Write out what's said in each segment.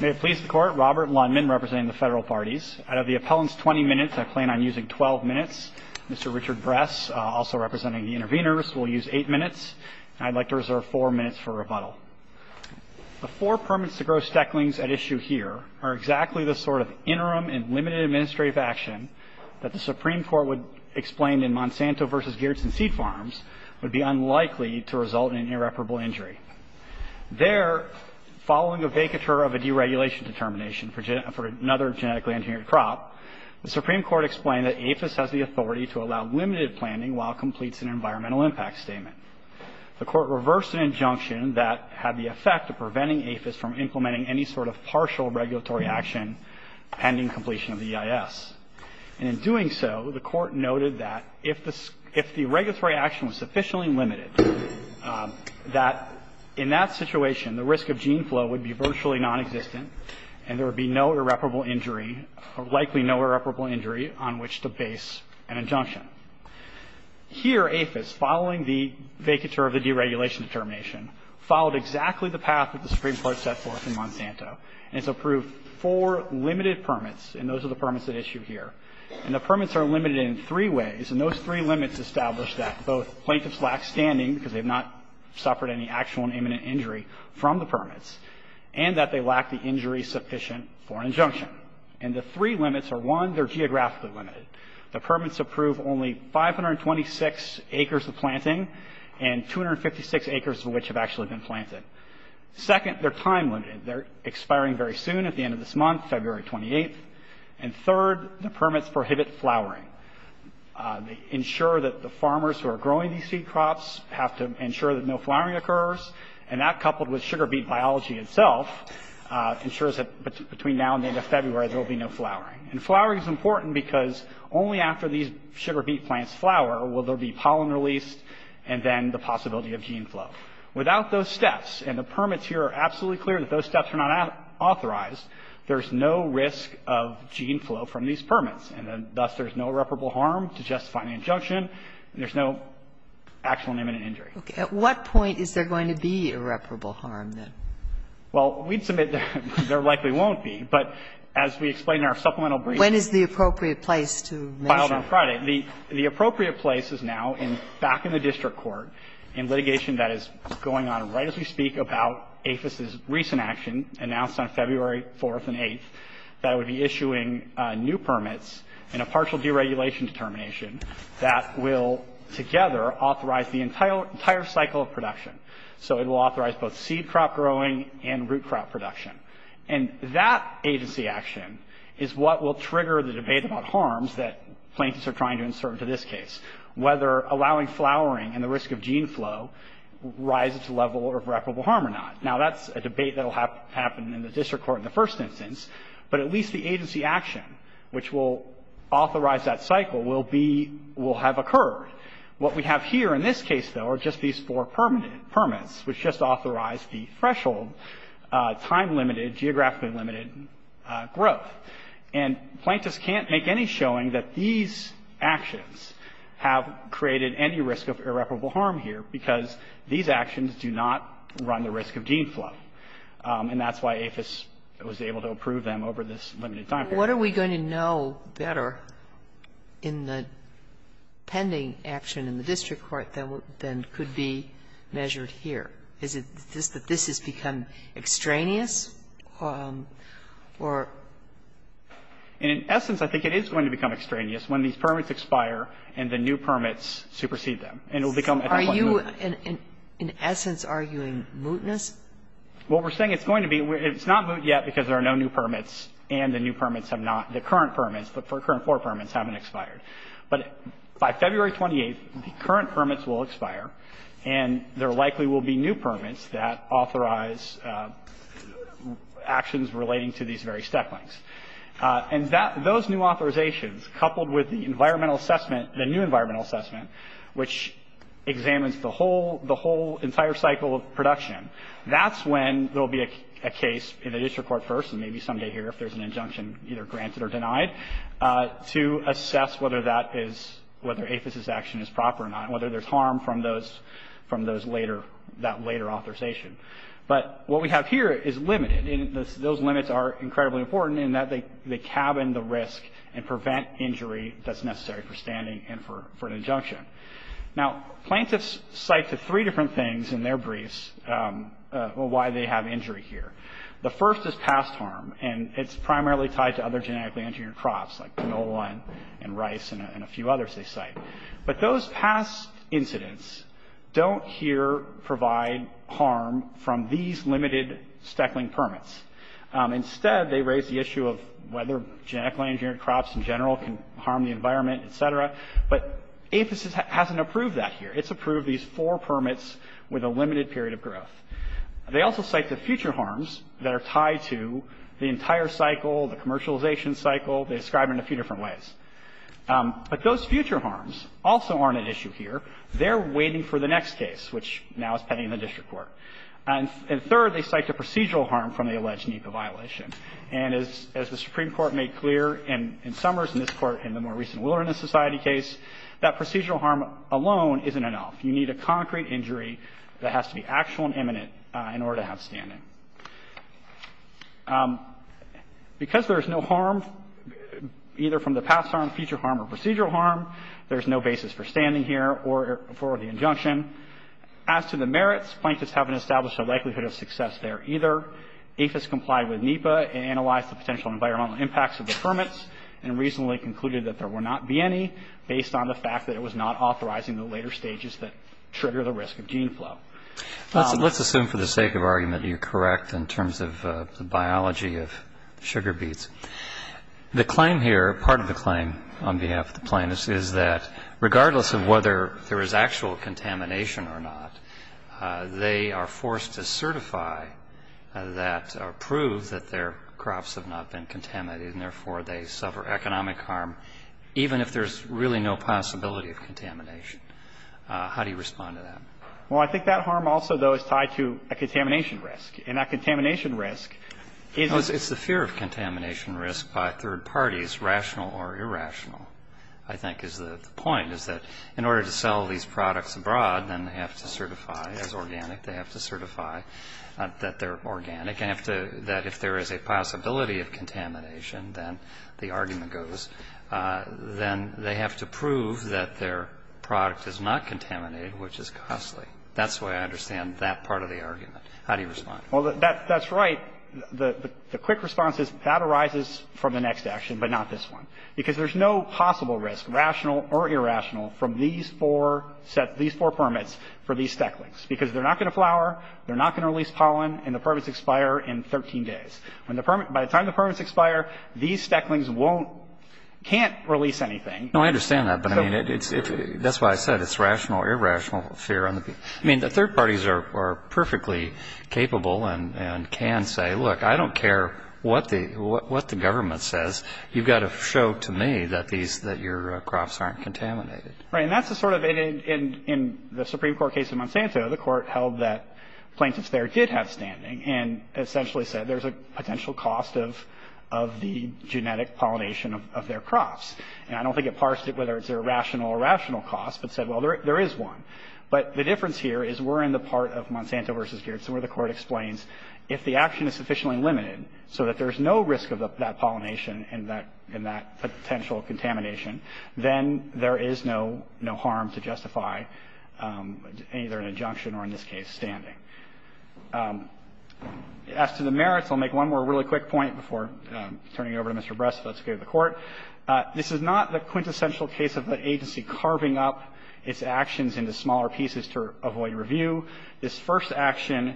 May it please the Court, Robert Lundman representing the Federal Parties. Out of the appellant's 20 minutes, I plan on using 12 minutes. Mr. Richard Bress, also representing the intervenors, will use 8 minutes. I'd like to reserve 4 minutes for rebuttal. The four permits to grow stecklings at issue here are exactly the sort of interim and limited administrative action that the Supreme Court would explain in Monsanto v. Geertsen Seed Farms would be unlikely to result in an irreparable injury. There, following a vacatur of a deregulation determination for another genetically engineered crop, the Supreme Court explained that APHIS has the authority to allow limited planting while it completes an environmental impact statement. The Court reversed an injunction that had the effect of preventing APHIS from implementing any sort of partial regulatory action pending completion of the EIS. And in doing so, the Court noted that if the regulatory action was sufficiently limited, that in that situation, the risk of gene flow would be virtually nonexistent and there would be no irreparable injury or likely no irreparable injury on which to base an injunction. Here, APHIS, following the vacatur of the deregulation determination, followed exactly the path that the Supreme Court set forth in Monsanto. And it's approved four limited permits, and those are the permits at issue here. And the permits are limited in three ways, and those three limits establish that both plaintiffs lack standing, because they have not suffered any actual and imminent injury from the permits, and that they lack the injury sufficient for an injunction. And the three limits are, one, they're geographically limited. The permits approve only 526 acres of planting and 256 acres of which have actually been planted. Second, they're time limited. They're expiring very soon at the end of this month, February 28th. And third, the permits prohibit flowering. They ensure that the farmers who are growing these seed crops have to ensure that no flowering occurs. And that, coupled with sugar beet biology itself, ensures that between now and the end of February there will be no flowering. And flowering is important because only after these sugar beet plants flower will there be pollen released and then the possibility of gene flow. Without those steps, and the permits here are absolutely clear that those steps are not authorized, there's no risk of gene flow from these permits, and thus there's no irreparable harm to justify an injunction. There's no actual and imminent injury. Okay. At what point is there going to be irreparable harm, then? Well, we'd submit there likely won't be, but as we explain in our supplemental briefing. When is the appropriate place to measure? Filed on Friday. The appropriate place is now back in the district court in litigation that is going on right as we speak about APHIS's recent action announced on February 4th and 8th that would be issuing new permits and a partial deregulation determination that will, together, authorize the entire cycle of production. So it will authorize both seed crop growing and root crop production. And that agency action is what will trigger the debate about harms that plaintiffs are trying to insert into this case, whether allowing flowering and the risk of gene flow rises to the level of irreparable harm or not. Now, that's a debate that will happen in the district court in the first instance, but at least the agency action which will authorize that cycle will be – will have occurred. What we have here in this case, though, are just these four permits, which just authorize the threshold, time-limited, geographically-limited growth. And plaintiffs can't make any showing that these actions have created any risk of irreparable harm here because these actions do not run the risk of gene flow. And that's why APHIS was able to approve them over this limited time period. Sotomayor What are we going to know better in the pending action in the district court than could be measured here? Is it just that this has become extraneous? Or – In essence, I think it is going to become extraneous when these permits expire and the new permits supersede them. And it will become, I think, what you – Sotomayor Are you, in essence, arguing mootness? Well, we're saying it's going to be – it's not moot yet because there are no new permits and the new permits have not – the current permits – the current four permits haven't expired. But by February 28th, the current permits will expire and there likely will be new permits that authorize actions relating to these very step lengths. And that – those new authorizations, coupled with the environmental assessment – the new environmental assessment, which examines the whole – the whole entire cycle of production, that's when there will be a case in the district court first, and maybe someday here if there's an injunction either granted or denied, to assess whether that is – whether APHIS's action is proper or not, whether there's harm from those – from those later – that later authorization. But what we have here is limited. And those limits are incredibly important in that they cabin the risk and prevent injury that's necessary for standing and for an injunction. Now, plaintiffs cite to three different things in their briefs why they have injury here. The first is past harm, and it's primarily tied to other genetically engineered crops like canola and rice and a few others they cite. But those past incidents don't here provide harm from these limited steckling permits. Instead, they raise the issue of whether genetically engineered crops in general can harm the environment, et cetera. But APHIS hasn't approved that here. It's approved these four permits with a limited period of growth. They also cite the future harms that are tied to the entire cycle, the commercialization cycle. They describe it in a few different ways. But those future harms also aren't at issue here. They're waiting for the next case, which now is pending in the district court. And third, they cite the procedural harm from the alleged NEPA violation. And as the Supreme Court made clear in Summers and this Court in the more recent Willerness Society case, that procedural harm alone isn't enough. You need a concrete injury that has to be actual and imminent in order to have standing. Because there's no harm either from the past harm, future harm, or procedural harm, there's no basis for standing here or for the injunction. As to the merits, plaintiffs haven't established a likelihood of success there either. APHIS complied with NEPA and analyzed the potential environmental impacts of the permits and reasonably concluded that there will not be any based on the fact that it was not authorizing the later stages that trigger the risk of gene flow. Let's assume for the sake of argument that you're correct in terms of the biology of sugar beets. The claim here, part of the claim on behalf of the plaintiffs, is that regardless of whether there is actual contamination or not, they are forced to certify that or prove that their crops have not been contaminated, and therefore they suffer economic harm, even if there's really no possibility of contamination. How do you respond to that? Well, I think that harm also, though, is tied to a contamination risk. And that contamination risk is a fear of contamination risk by third parties, rational or irrational. I think is the point, is that in order to sell these products abroad, then they have to certify as organic, they have to certify that they're organic, and have to – that if there is a possibility of contamination, then the argument goes, then they have to prove that their product is not contaminated, which is costly. That's the way I understand that part of the argument. How do you respond? Well, that's right. The quick response is that arises from the next action, but not this one, because there's no possible risk, rational or irrational, from these four permits for these stacklings, because they're not going to flower, they're not going to release pollen, and the permits expire in 13 days. By the time the permits expire, these stacklings won't – can't release anything. No, I understand that, but I mean, that's why I said it's rational or irrational fear. I mean, the third parties are perfectly capable and can say, look, I don't care what the government says, you've got to show to me that these – that your crops aren't contaminated. Right, and that's the sort of – in the Supreme Court case in Monsanto, the court held that plaintiffs there did have standing, and essentially said there's a potential cost of the genetic pollination of their crops. And I don't think it parsed it whether it's a rational or irrational cost, but said, well, there is one. But the difference here is we're in the part of Monsanto versus Geertsen where the pollination and that potential contamination, then there is no harm to justify either an injunction or, in this case, standing. As to the merits, I'll make one more really quick point before turning it over to Mr. Bress if that's okay with the Court. This is not the quintessential case of the agency carving up its actions into smaller pieces to avoid review. This first action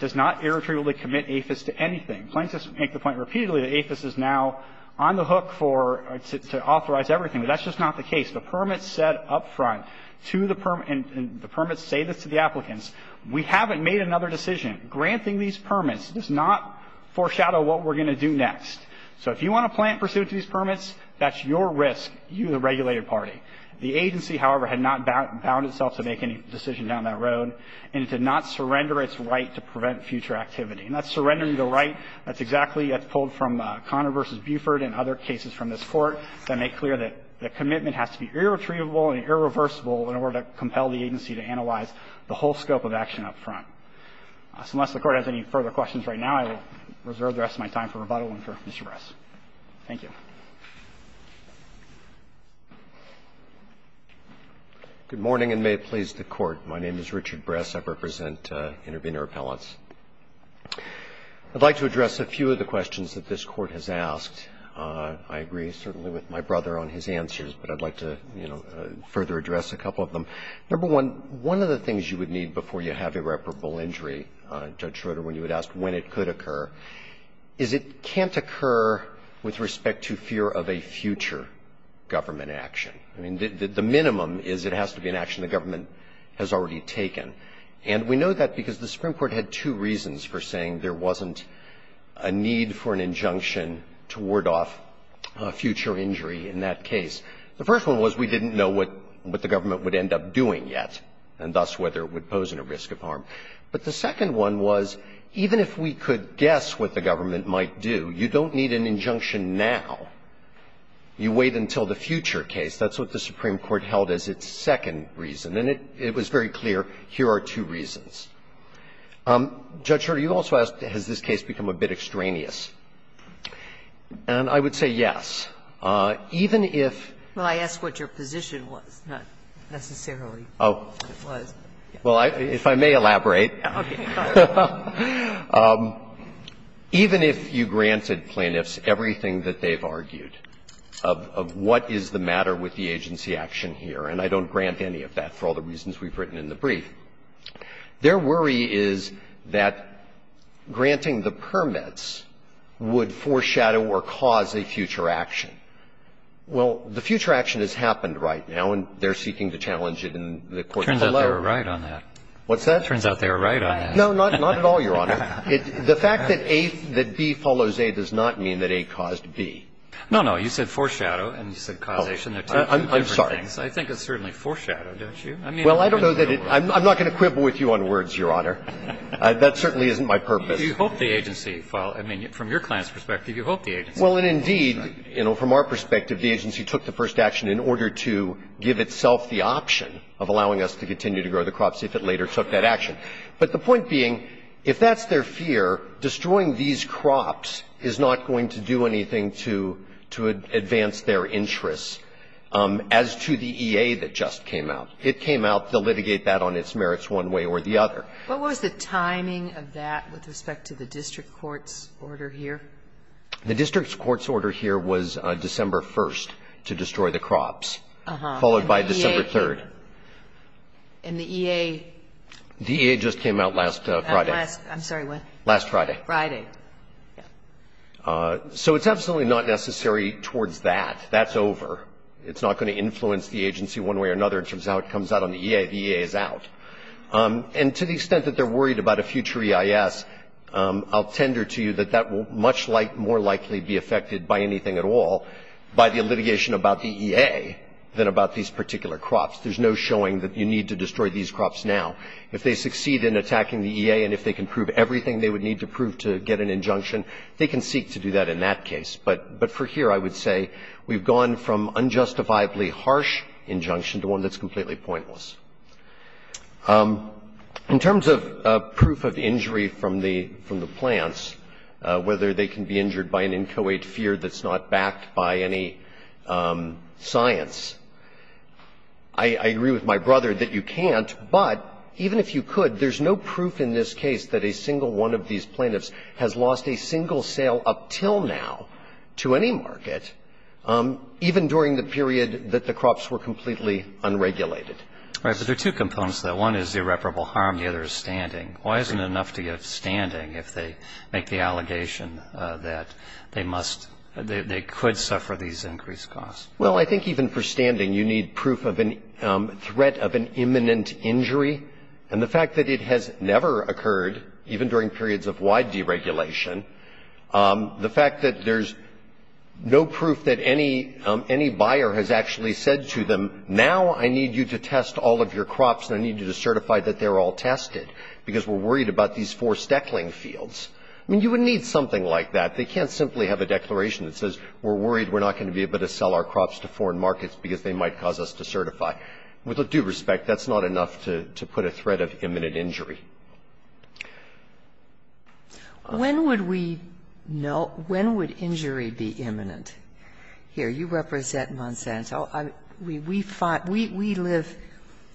does not irretrievably commit APHIS to anything. Plaintiffs make the point repeatedly that APHIS is now on the hook for – to authorize everything, but that's just not the case. The permits said up front to the – and the permits say this to the applicants, we haven't made another decision. Granting these permits does not foreshadow what we're going to do next. So if you want to plant pursuant to these permits, that's your risk, you, the regulated party. The agency, however, had not bound itself to make any decision down that road, and it did not surrender its right to prevent future activity. And that's surrendering the right, that's exactly as pulled from Conner v. Buford and other cases from this Court that make clear that the commitment has to be irretrievable and irreversible in order to compel the agency to analyze the whole scope of action up front. So unless the Court has any further questions right now, I will reserve the rest of my time for rebuttal and for Mr. Bress. Thank you. Good morning, and may it please the Court. My name is Richard Bress. I represent Intervenor Appellants. I'd like to address a few of the questions that this Court has asked. I agree certainly with my brother on his answers, but I'd like to, you know, further address a couple of them. Number one, one of the things you would need before you have irreparable injury, Judge Schroeder, when you would ask when it could occur, is it can't occur with respect to fear of a future government action. I mean, the minimum is it has to be an action the government has already taken. And we know that because the Supreme Court had two reasons for saying there wasn't a need for an injunction to ward off a future injury in that case. The first one was we didn't know what the government would end up doing yet and thus whether it would pose any risk of harm. But the second one was even if we could guess what the government might do, you don't need an injunction now. You wait until the future case. That's what the Supreme Court held as its second reason. And it was very clear, here are two reasons. Judge Schroeder, you also asked has this case become a bit extraneous. And I would say yes. Even if you granted plaintiffs everything that they've argued, of what is the matter with the agency action here, and I don't grant any of that for all the reasons that I've given. But I would say that the Supreme Court, and I'm not going to go into all the reasons we've written in the brief, their worry is that granting the permits would foreshadow or cause a future action. Well, the future action has happened right now, and they're seeking to challenge it in the court below. It turns out they were right on that. What's that? It turns out they were right on that. No, not at all, Your Honor. The fact that A, that B follows A does not mean that A caused B. No, no. You said foreshadow, and you said causation. I'm sorry. I think it's certainly foreshadow, don't you? Well, I don't know that it – I'm not going to quibble with you on words, Your Honor. That certainly isn't my purpose. You hope the agency – I mean, from your client's perspective, you hope the agency – Well, and indeed, you know, from our perspective, the agency took the first action in order to give itself the option of allowing us to continue to grow the crops if it later took that action. But the point being, if that's their fear, destroying these crops is not going to do anything to advance their interests. As to the EA that just came out, it came out to litigate that on its merits one way or the other. What was the timing of that with respect to the district court's order here? The district court's order here was December 1st to destroy the crops, followed by December 3rd. And the EA? The EA just came out last Friday. I'm sorry, when? Last Friday. Friday. So it's absolutely not necessary towards that. That's over. It's not going to influence the agency one way or another in terms of how it comes out on the EA. The EA is out. And to the extent that they're worried about a future EIS, I'll tender to you that that will much more likely be affected by anything at all by the litigation about the EA than about these particular crops. There's no showing that you need to destroy these crops now. If they succeed in attacking the EA and if they can prove everything they would need to prove to get an injunction, they can seek to do that in that case. But for here I would say we've gone from unjustifiably harsh injunction to one that's completely pointless. In terms of proof of injury from the plants, whether they can be injured by an inchoate fear that's not backed by any science, I agree with my brother that you can't. But even if you could, there's no proof in this case that a single one of these plaintiffs has lost a single sale up till now to any market, even during the period that the crops were completely unregulated. Right. But there are two components to that. One is irreparable harm. The other is standing. Why isn't it enough to give standing if they make the allegation that they must they could suffer these increased costs? Well, I think even for standing you need proof of a threat of an imminent injury. And the fact that it has never occurred, even during periods of wide deregulation, the fact that there's no proof that any buyer has actually said to them, now I need you to test all of your crops and I need you to certify that they're all tested because we're worried about these four steckling fields. I mean, you would need something like that. They can't simply have a declaration that says we're worried we're not going to be able to sell our crops to foreign markets because they might cause us to certify. With due respect, that's not enough to put a threat of imminent injury. When would we know, when would injury be imminent? Here, you represent Monsanto. We live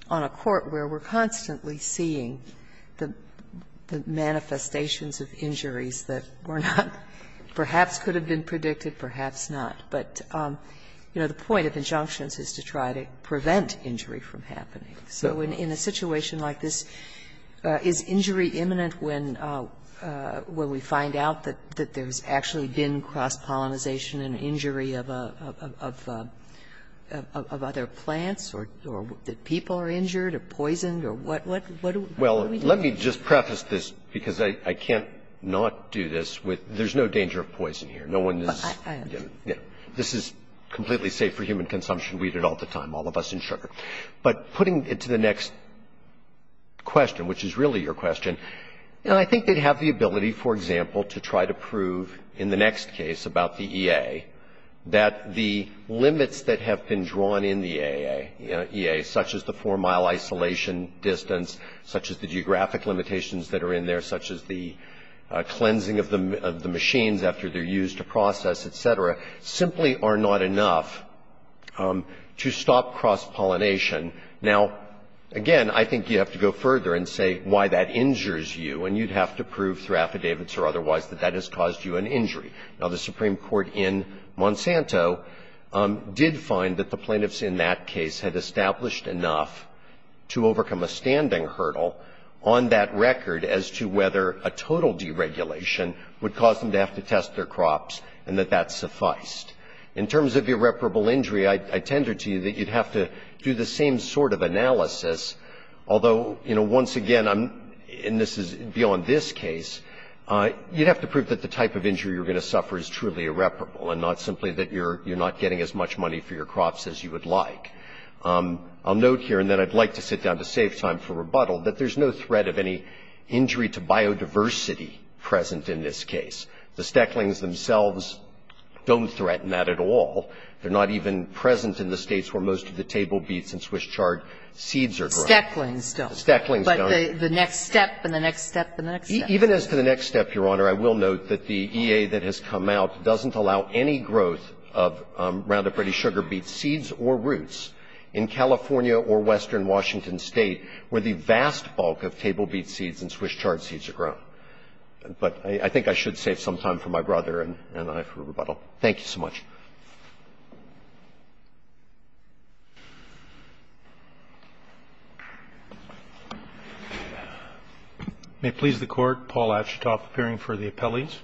on a court where we're constantly seeing the manifestations of injuries that were not, perhaps could have been predicted, perhaps not. But, you know, the point of injunctions is to try to prevent injury from happening. So in a situation like this, is injury imminent when we find out that there's actually been cross-pollinization and injury of other plants or that people are injured or poisoned or what do we know? Well, let me just preface this, because I can't not do this with, there's no danger of poison here. No one is, you know, this is completely safe for human consumption. We eat it all the time, all of us, and sugar. But putting it to the next question, which is really your question, you know, I think they'd have the ability, for example, to try to prove in the next case about the EA that the limits that have been drawn in the EA, such as the four-mile isolation distance, such as the geographic limitations that are in there, such as the cleansing of the machines after they're used to process, et cetera, simply are not enough to stop cross-pollination. Now, again, I think you have to go further and say why that injures you, and you'd have to prove through affidavits or otherwise that that has caused you an injury. Now, the Supreme Court in Monsanto did find that the plaintiffs in that case had established enough to overcome a standing hurdle on that record as to whether a total deregulation would cause them to have to test their crops and that that sufficed. In terms of irreparable injury, I tendered to you that you'd have to do the same sort of analysis, although, you know, once again, and this is beyond this case, you'd have to prove that the type of injury you're going to suffer is truly irreparable and not simply that you're not getting as much money for your crops as you would like. I'll note here, and then I'd like to sit down to save time for rebuttal, that there's no threat of any injury to biodiversity present in this case. The Stecklings themselves don't threaten that at all. They're not even present in the States where most of the table beets and Swiss chard seeds are grown. Kagan. Stecklings don't. Stecklings don't. But the next step and the next step and the next step. Even as to the next step, Your Honor, I will note that the EA that has come out doesn't allow any growth of Roundup Ready sugar beet seeds or roots in California or western Washington State where the vast bulk of table beet seeds and Swiss chard seeds are grown. But I think I should save some time for my brother and I for rebuttal. Thank you so much. May it please the Court. Paul Ashitoff, appearing for the appellees.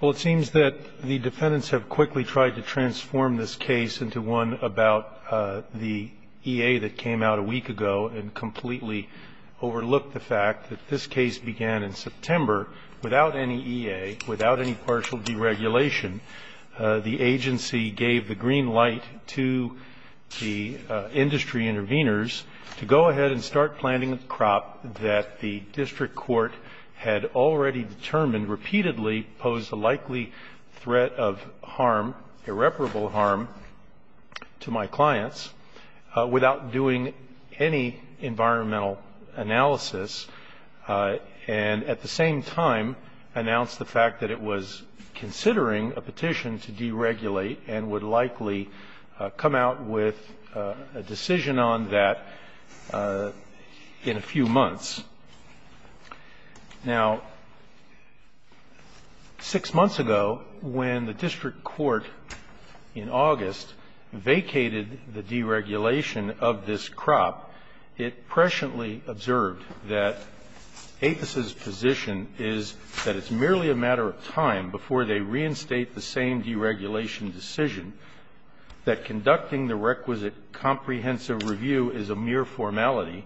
Well, it seems that the defendants have quickly tried to transform this case into one about the EA that came out a week ago and completely overlooked the fact that this case began in September without any EA, without any partial deregulation. The agency gave the green light to the industry interveners to go ahead and start planting a crop that the district court had already determined repeatedly posed a likely threat of harm, irreparable harm, to my clients without doing any environmental analysis and at the same time announced the fact that it was considering a petition to deregulate and would likely come out with a decision on that in a few months. Now, six months ago when the district court in August vacated the deregulation of this crop, it presciently observed that APHIS's position is that it's merely a matter of time before they reinstate the same deregulation decision, that conducting the requisite comprehensive review is a mere formality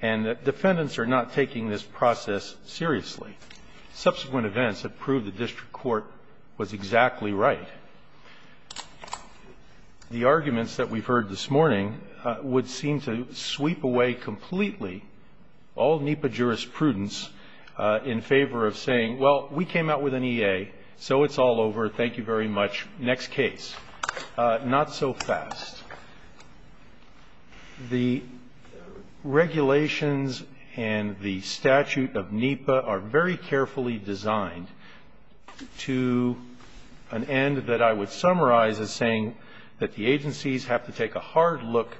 and that defendants are not taking this process seriously. Subsequent events have proved the district court was exactly right. The arguments that we've heard this morning would seem to sweep away completely all NEPA jurisprudence in favor of saying, well, we came out with an EA, so it's all over, thank you very much, next case. Not so fast. The regulations and the statute of NEPA are very carefully designed to an end that I would summarize as saying that the agencies have to take a hard look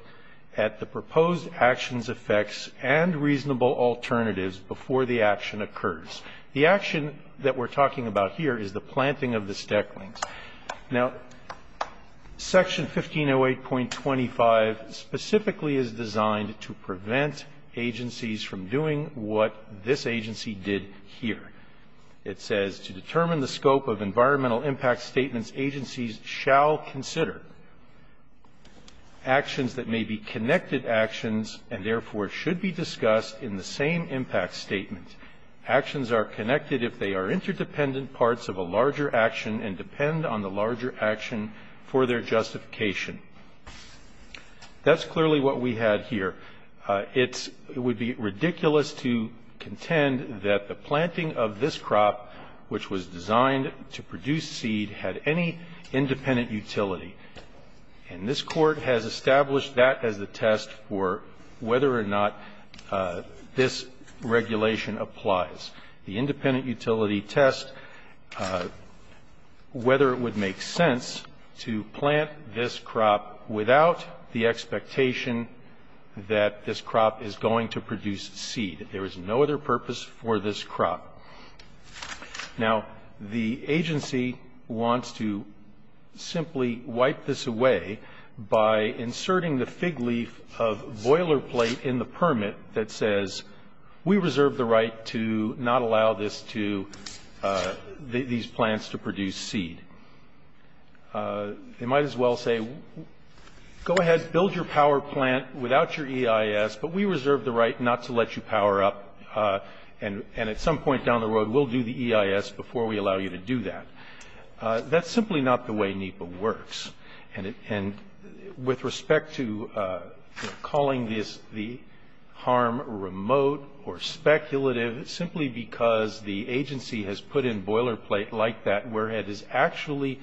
at the proposed actions, effects, and reasonable alternatives before the action occurs. The action that we're talking about here is the planting of the stecklings. Now, section 1508.25 specifically is designed to prevent agencies from doing what this agency did here. It says, to determine the scope of environmental impact statements, agencies shall consider actions that may be connected actions and therefore should be discussed in the same impact statement. Actions are connected if they are interdependent parts of a larger action and depend on the larger action for their justification. That's clearly what we had here. It would be ridiculous to contend that the planting of this crop, which was designed to produce seed, had any independent utility. And this Court has established that as a test for whether or not this regulation applies. The independent utility tests whether it would make sense to plant this crop without the expectation that this crop is going to produce seed. There is no other purpose for this crop. Now, the agency wants to simply wipe this away by inserting the fig leaf of boilerplate in the permit that says we reserve the right to not allow this to, these plants to produce seed. They might as well say, go ahead, build your power plant without your EIS, but we reserve the right not to let you power up. And at some point down the road, we'll do the EIS before we allow you to do that. That's simply not the way NEPA works. And with respect to calling the harm remote or speculative, simply because the agency has put in boilerplate like that, where it is actually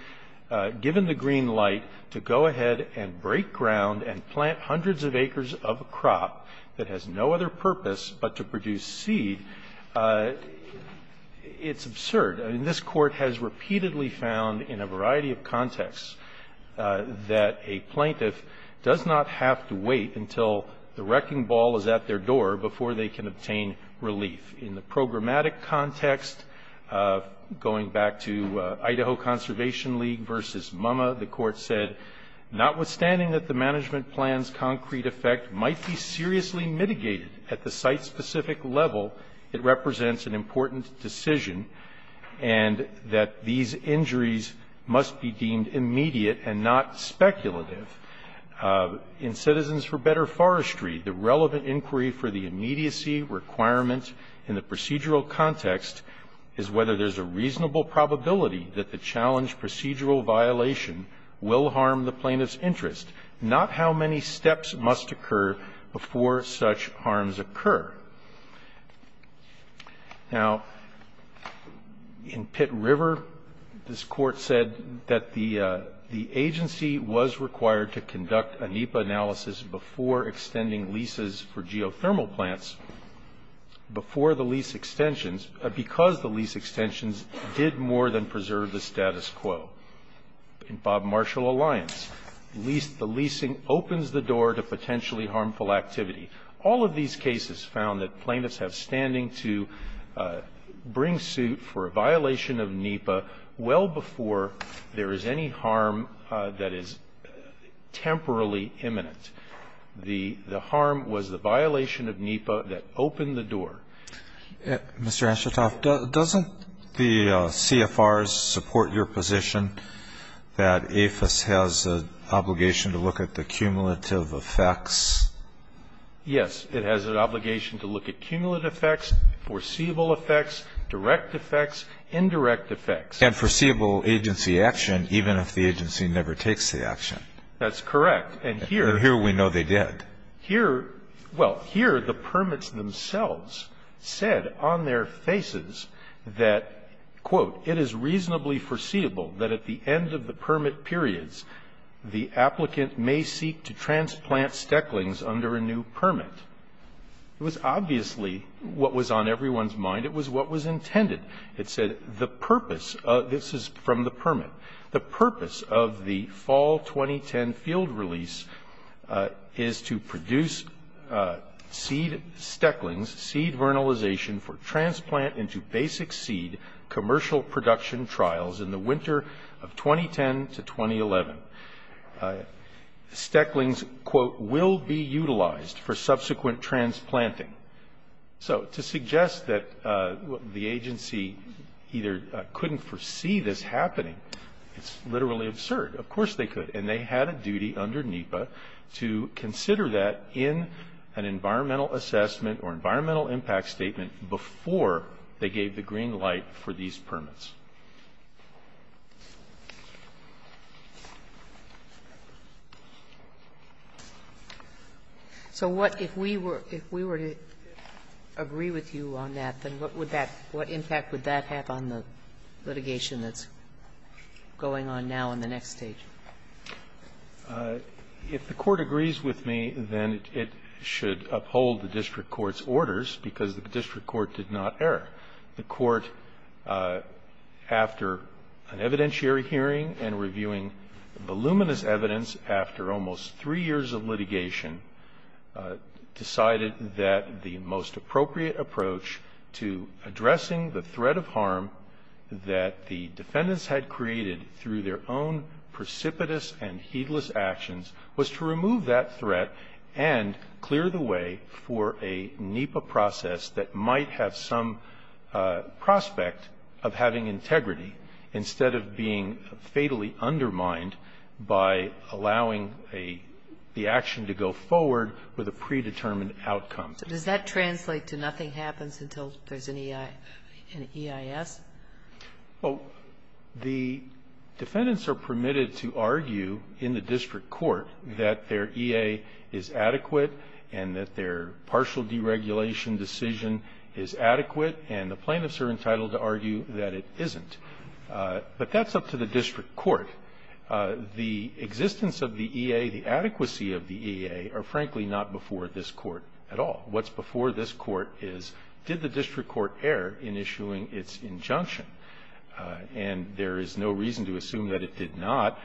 given the green light to go ahead and break ground and plant hundreds of acres of a crop that has no other purpose but to produce seed, it's absurd. I mean, this Court has repeatedly found in a variety of contexts that a plaintiff does not have to wait until the wrecking ball is at their door before they can obtain relief. In the programmatic context, going back to Idaho Conservation League v. MUMMA, the Court said, notwithstanding that the management plan's concrete effect might be seriously mitigated at the site-specific level, it represents an important decision, and that these injuries must be deemed immediate and not speculative. In Citizens for Better Forestry, the relevant inquiry for the immediacy requirement in the procedural context is whether there's a reasonable probability that the challenged procedural violation will harm the plaintiff's interest, not how many steps must occur before such harms occur. Now, in Pitt River, this Court said that the agency was required to conduct a NEPA analysis before extending leases for geothermal plants, before the lease extensions, because the lease extensions did more than preserve the status quo. In Bob Marshall Alliance, the leasing opens the door to potentially harmful activity. All of these cases found that plaintiffs have standing to bring suit for a violation of NEPA well before there is any harm that is temporally imminent. The harm was the violation of NEPA that opened the door. Mr. Ashitoff, doesn't the CFRs support your position that APHIS has an obligation to look at the cumulative effects? Yes. It has an obligation to look at cumulative effects, foreseeable effects, direct effects, indirect effects. And foreseeable agency action, even if the agency never takes the action. That's correct. And here we know they did. Well, here the permits themselves said on their faces that, quote, it is reasonably foreseeable that at the end of the permit periods, the applicant may seek to transplant stecklings under a new permit. It was obviously what was on everyone's mind. It was what was intended. It said the purpose, this is from the permit, the purpose of the fall 2010 field release is to produce seed stecklings, seed vernalization for transplant into basic seed, commercial production trials in the winter of 2010 to 2011. Stecklings, quote, will be utilized for subsequent transplanting. So to suggest that the agency either couldn't foresee this happening, it's literally absurd. Of course they could. And they had a duty under NEPA to consider that in an environmental assessment or environmental impact statement before they gave the green light for these permits. Sotomayor, if we were to agree with you on that, then what impact would that have on the litigation that's going on now in the next stage? If the Court agrees with me, then it should uphold the district court's orders because the district court did not err. The Court, after an evidentiary hearing and reviewing voluminous evidence after almost three years of litigation, decided that the most appropriate approach to addressing the threat of harm that the defendants had created through their own precipitous and heedless actions was to remove that threat and clear the way for a NEPA process that might have some prospect of having integrity instead of being fatally undermined by allowing the action to go forward with a predetermined outcome. So does that translate to nothing happens until there's an EIS? Well, the defendants are permitted to argue in the district court that their EA is adequate and that their partial deregulation decision is adequate, and the plaintiffs are entitled to argue that it isn't. But that's up to the district court. The existence of the EA, the adequacy of the EA, are frankly not before this court at all. What's before this court is, did the district court err in issuing its injunction? And there is no reason to assume that it did not,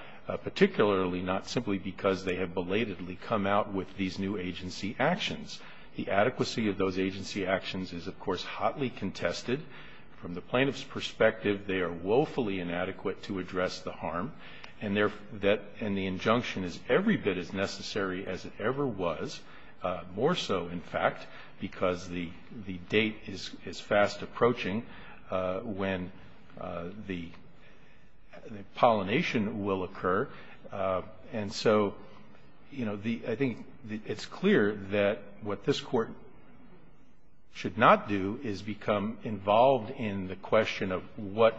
particularly not simply because they have belatedly come out with these new agency actions. The adequacy of those agency actions is, of course, hotly contested. From the plaintiff's perspective, they are woefully inadequate to address the harm, and the injunction is every bit as necessary as it ever was, more so, in fact, because the date is fast approaching when the pollination will occur. And so, you know, I think it's clear that what this court should not do is become involved in the question of what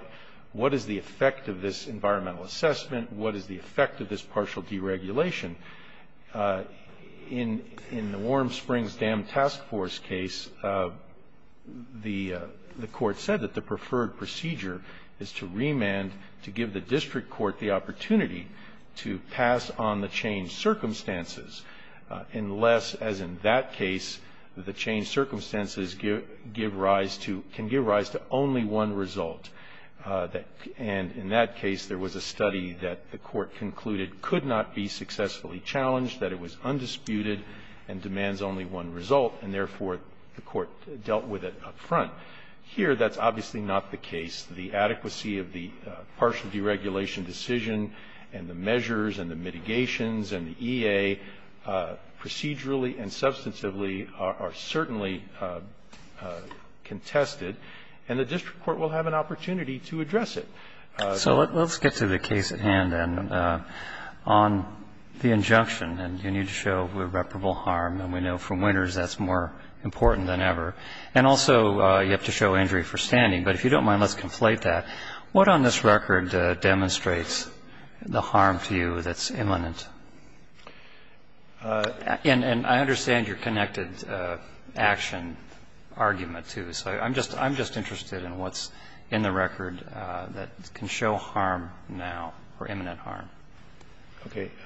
is the effect of this environmental assessment, what is the effect of this partial deregulation. In the Warm Springs Dam Task Force case, the court said that the preferred procedure is to remand, to give the district court the opportunity to pass on the changed circumstances, unless, as in that case, the changed circumstances can give rise to only one result. And in that case, there was a study that the court concluded could not be successfully challenged, that it was undisputed and demands only one result, and therefore the court dealt with it up front. Here, that's obviously not the case. The adequacy of the partial deregulation decision and the measures and the mitigations and the EA procedurally and substantively are certainly contested, and the district court will have an opportunity to address it. So let's get to the case at hand then. On the injunction, and you need to show irreparable harm, and we know from Winters that's more important than ever, and also you have to show injury for standing, but if you don't mind, let's conflate that. What on this record demonstrates the harm to you that's imminent? And I understand your connected action argument, too. So I'm just interested in what's in the record that can show harm now, or imminent harm.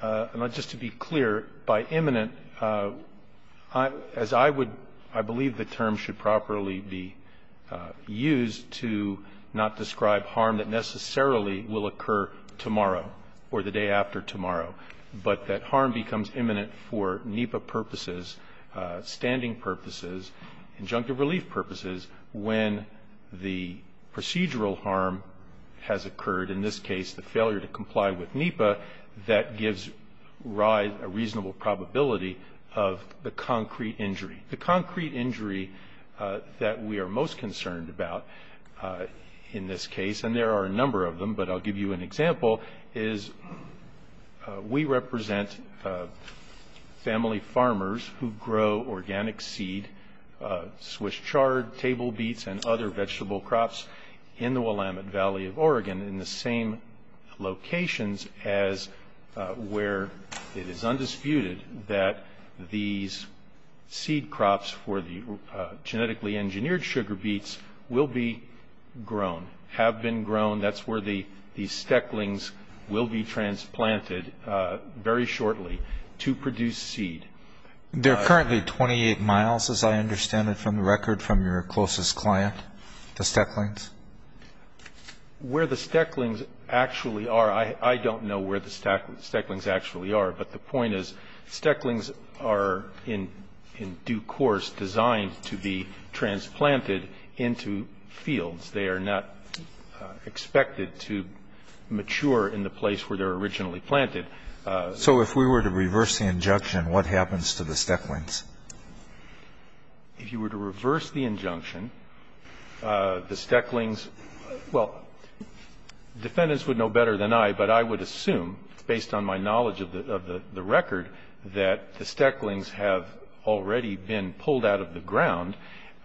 Roberts, just to be clear, by imminent, as I would, I believe the term should properly be used to not describe harm that necessarily will occur tomorrow or the day after tomorrow, but that harm becomes imminent for NEPA purposes, standing purposes, injunctive relief purposes, when the procedural harm has occurred, in this case the failure to comply with NEPA, that gives rise, a reasonable probability of the concrete injury. The concrete injury that we are most concerned about in this case, and there are a number of them, but I'll give you an example, is we represent family farmers who grow organic seed, Swiss chard, table beets, and other vegetable crops in the Willamette Valley of Oregon in the same locations as where it is undisputed that these seed crops for the genetically engineered sugar beets will be grown, have been grown. That's where the stecklings will be transplanted very shortly to produce seed. They're currently 28 miles, as I understand it from the record, from your closest client, the stecklings? Where the stecklings actually are, I don't know where the stecklings actually are, but the point is stecklings are in due course designed to be transplanted into fields. They are not expected to mature in the place where they're originally planted. So if we were to reverse the injunction, what happens to the stecklings? If you were to reverse the injunction, the stecklings, well, defendants would know better than I, but I would assume, based on my knowledge of the record, that the stecklings have already been pulled out of the ground,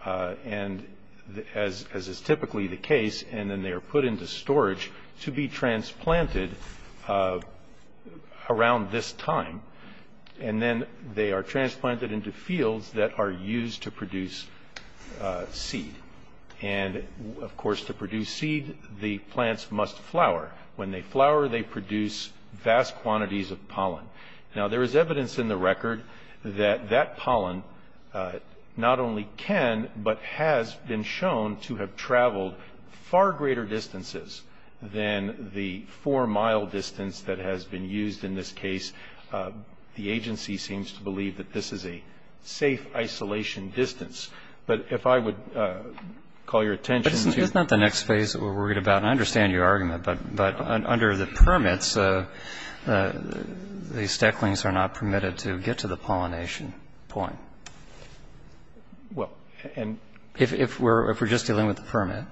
as is typically the case, and then they are put into storage to be transplanted around this time. And then they are transplanted into fields that are used to produce seed. And, of course, to produce seed, the plants must flower. When they flower, they produce vast quantities of pollen. Now, there is evidence in the record that that pollen not only can, but has been shown to have traveled far greater distances than the four-mile distance that has been used in this case. The agency seems to believe that this is a safe isolation distance. But if I would call your attention to But this is not the next phase that we're worried about. I understand your argument. But under the permits, the stecklings are not permitted to get to the pollination point. Well, and If we're just dealing with the permit.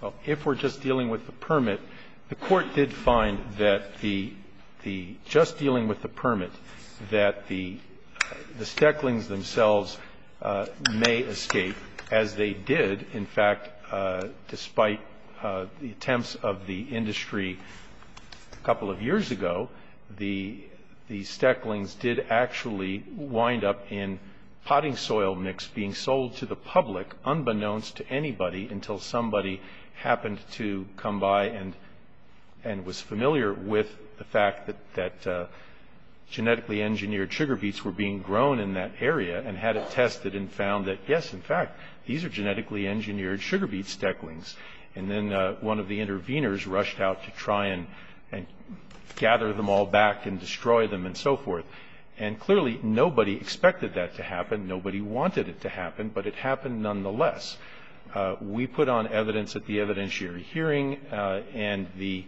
Well, if we're just dealing with the permit, the Court did find that the just dealing with the permit, that the stecklings themselves may escape, as they did, in fact, despite the attempts of the industry a couple of years ago, the stecklings did actually wind up in potting soil mix being sold to the public, unbeknownst to anybody, until somebody happened to come by and was familiar with the fact that genetically engineered sugar beets were being grown in that area and had it tested and found that, yes, in sugar beet stecklings. And then one of the interveners rushed out to try and gather them all back and destroy them and so forth. And clearly, nobody expected that to happen. Nobody wanted it to happen. But it happened nonetheless. We put on evidence at the evidentiary hearing. And the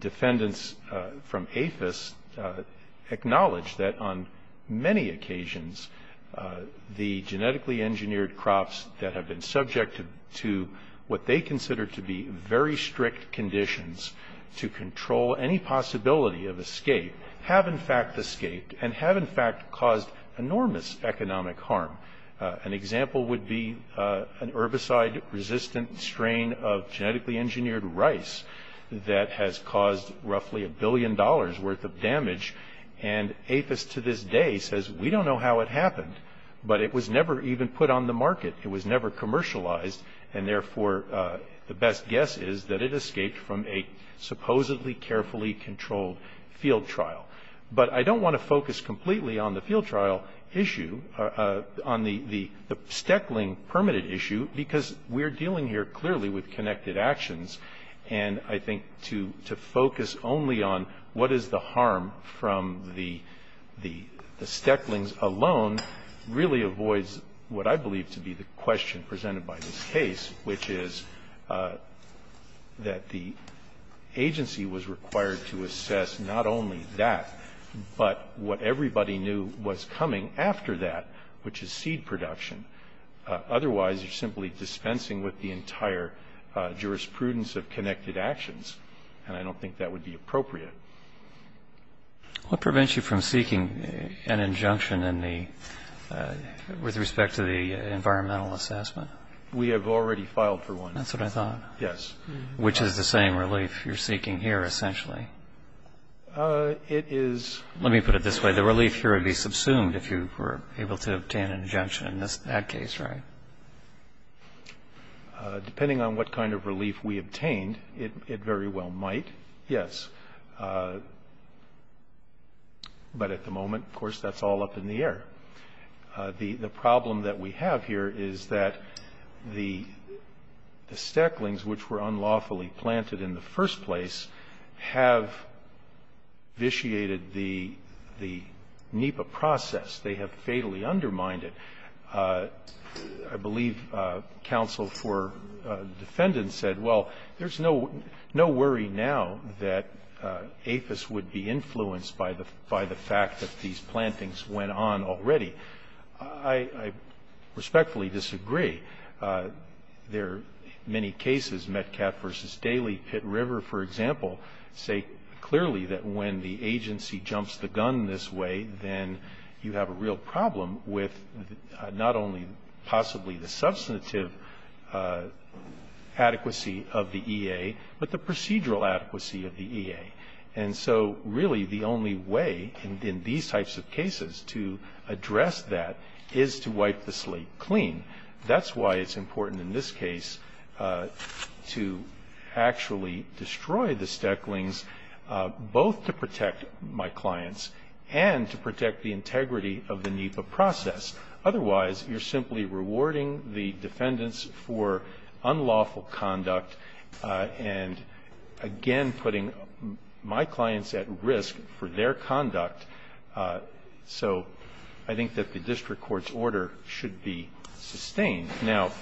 defendants from APHIS acknowledged that on many occasions, the genetically engineered crops that have been subjected to what they consider to be very strict conditions to control any possibility of escape have, in fact, escaped and have, in fact, caused enormous economic harm. An example would be an herbicide-resistant strain of genetically engineered rice that has caused roughly a billion dollars' worth of damage. And APHIS to this day says, we don't know how it happened, but it was never even put on the market. It was never commercialized. And therefore, the best guess is that it escaped from a supposedly carefully controlled field trial. But I don't want to focus completely on the field trial issue, on the steckling permitted issue, because we're dealing here clearly with connected actions. And I think to focus only on what is the harm from the stecklings alone really avoids what I believe to be the question presented by this case, which is that the agency was required to assess not only that, but what everybody knew was coming after that, which is seed production. Otherwise, you're simply dispensing with the entire jurisprudence of connected actions. And I don't think that would be appropriate. What prevents you from seeking an injunction with respect to the environmental assessment? We have already filed for one. That's what I thought. Yes. Which is the same relief you're seeking here, essentially? It is... Let me put it this way. The relief here would be subsumed if you were able to obtain an injunction in that case, right? Depending on what kind of relief we obtained, it very well might, yes. But at the moment, of course, that's all up in the air. The problem that we have here is that the stecklings, which were unlawfully planted in the first place, have vitiated the NEPA process. They have fatally undermined it. I believe counsel for defendants said, well, there's no worry now that APHIS would be influenced by the fact that these plantings went on already. I respectfully disagree. There are many cases, Metcalfe v. Daly, Pitt River, for example, say clearly that when the agency jumps the gun this way, then you have a real problem with not only possibly the substantive adequacy of the EA, but the procedural adequacy of the EA. And so really the only way in these types of cases to address that is to wipe the slate clean. That's why it's important in this case to actually destroy the stecklings, both to protect my clients and to protect the integrity of the NEPA process. Otherwise, you're simply rewarding the defendants for unlawful conduct and, again, putting my clients at risk for their conduct. So I think that the district court's order should be sustained. Now,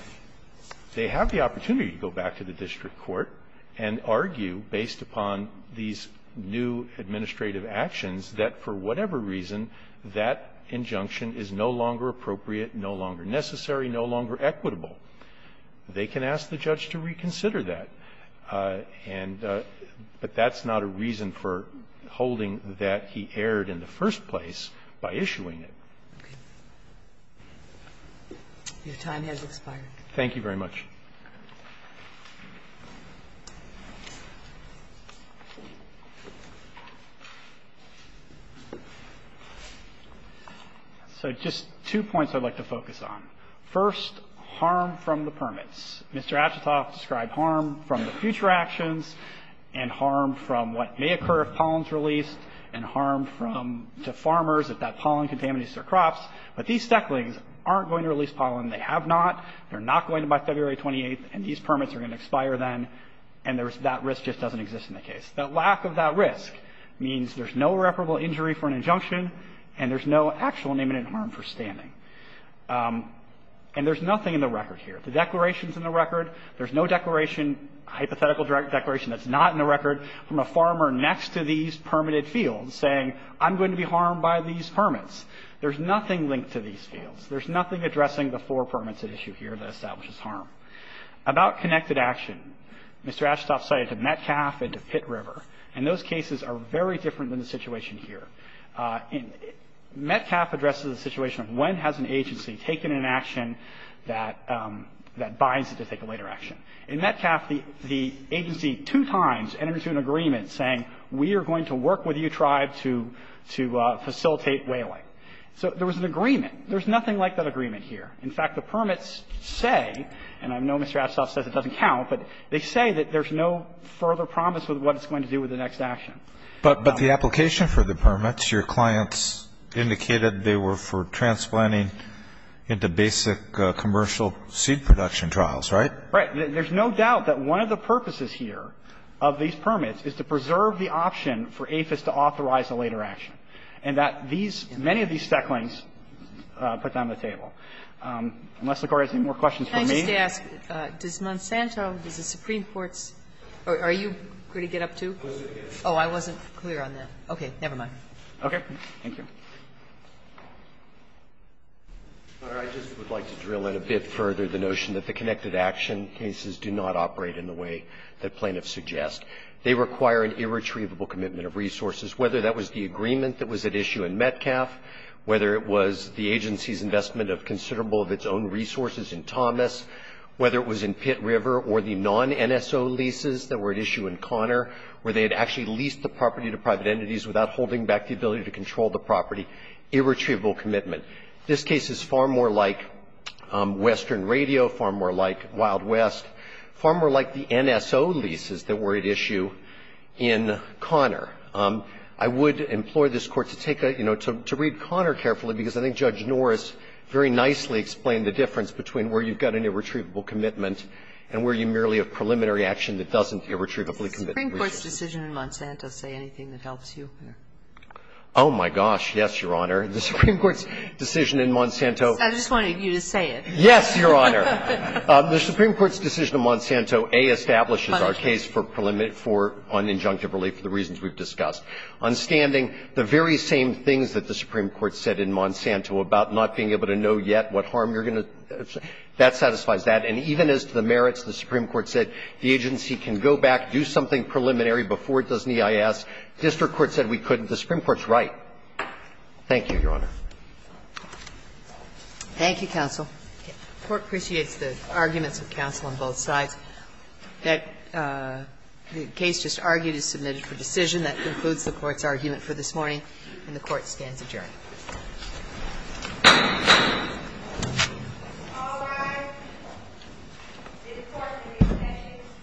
they have the opportunity to go back to the district court and argue, based upon these new administrative actions, that for whatever reason, that injunction is no longer appropriate, no longer necessary, no longer equitable. They can ask the judge to reconsider that. But that's not a reason for holding that he erred in the first place by issuing it. Ginsburg. Your time has expired. Thank you very much. So just two points I'd like to focus on. First, harm from the permits. Mr. Atchitoff described harm from the future actions and harm from what may occur if pollen is released and harm from the farmers if that pollen contaminates their crops. But these stecklings aren't going to release pollen. They have not. They're not going to by February 28th, and these permits are going to expire then, and there's that risk just doesn't exist in the case. The lack of that risk means there's no reparable injury for an injunction, and there's no actual name-in-hand harm for standing. And there's nothing in the record here. The declaration's in the record. There's no declaration, hypothetical declaration that's not in the record from a farmer next to these permitted fields saying I'm going to be harmed by these permits. There's nothing linked to these fields. There's nothing addressing the four permits at issue here that establishes harm. About connected action, Mr. Atchitoff cited to Metcalf and to Pitt River, and those cases are very different than the situation here. Metcalf addresses the situation of when has an agency taken an action that binds it to take a later action. In Metcalf, the agency two times entered into an agreement saying we are going to work with you tribe to facilitate whaling. So there was an agreement. There's nothing like that agreement here. In fact, the permits say, and I know Mr. Atchitoff says it doesn't count, but they say that there's no further promise with what it's going to do with the next action. But the application for the permits, your clients indicated they were for transplanting into basic commercial seed production trials, right? Right. There's no doubt that one of the purposes here of these permits is to preserve the option for APHIS to authorize a later action, and that these, many of these stecklings put them on the table. Unless the Court has any more questions for me. Can I just ask, does Monsanto, does the Supreme Court's, are you going to get up to? Oh, I wasn't clear on that. Okay. Never mind. Okay. Thank you. I just would like to drill in a bit further the notion that the connected action cases do not operate in the way that plaintiffs suggest. They require an irretrievable commitment of resources, whether that was the agreement that was at issue in Metcalf, whether it was the agency's investment of considerable of its own resources in Thomas, whether it was in Pitt River or the non-NSO leases that were at issue in Conner, where they had actually leased the property to private entities without holding back the ability to control the property. Irretrievable commitment. This case is far more like Western Radio, far more like Wild West, far more like the NSO leases that were at issue in Conner. I would implore this Court to take a, you know, to read Conner carefully, because I think Judge Norris very nicely explained the difference between where you've got an irretrievable commitment and where you merely have preliminary action that doesn't irretrievably commit resources. Does the Supreme Court's decision in Monsanto say anything that helps you? Oh, my gosh, yes, Your Honor. The Supreme Court's decision in Monsanto. I just wanted you to say it. Yes, Your Honor. The Supreme Court's decision in Monsanto, A, establishes our case for preliminary for un-injunctive relief for the reasons we've discussed. On standing, the very same things that the Supreme Court said in Monsanto about not being able to know yet what harm you're going to do. That satisfies that. And even as to the merits, the Supreme Court said the agency can go back, do something preliminary before it does an EIS. The district court said we couldn't. The Supreme Court's right. Thank you, Your Honor. Thank you, counsel. The Court appreciates the arguments of counsel on both sides. The case just argued is submitted for decision. That concludes the Court's argument for this morning, and the Court stands adjourned. All rise. This Court is adjourned.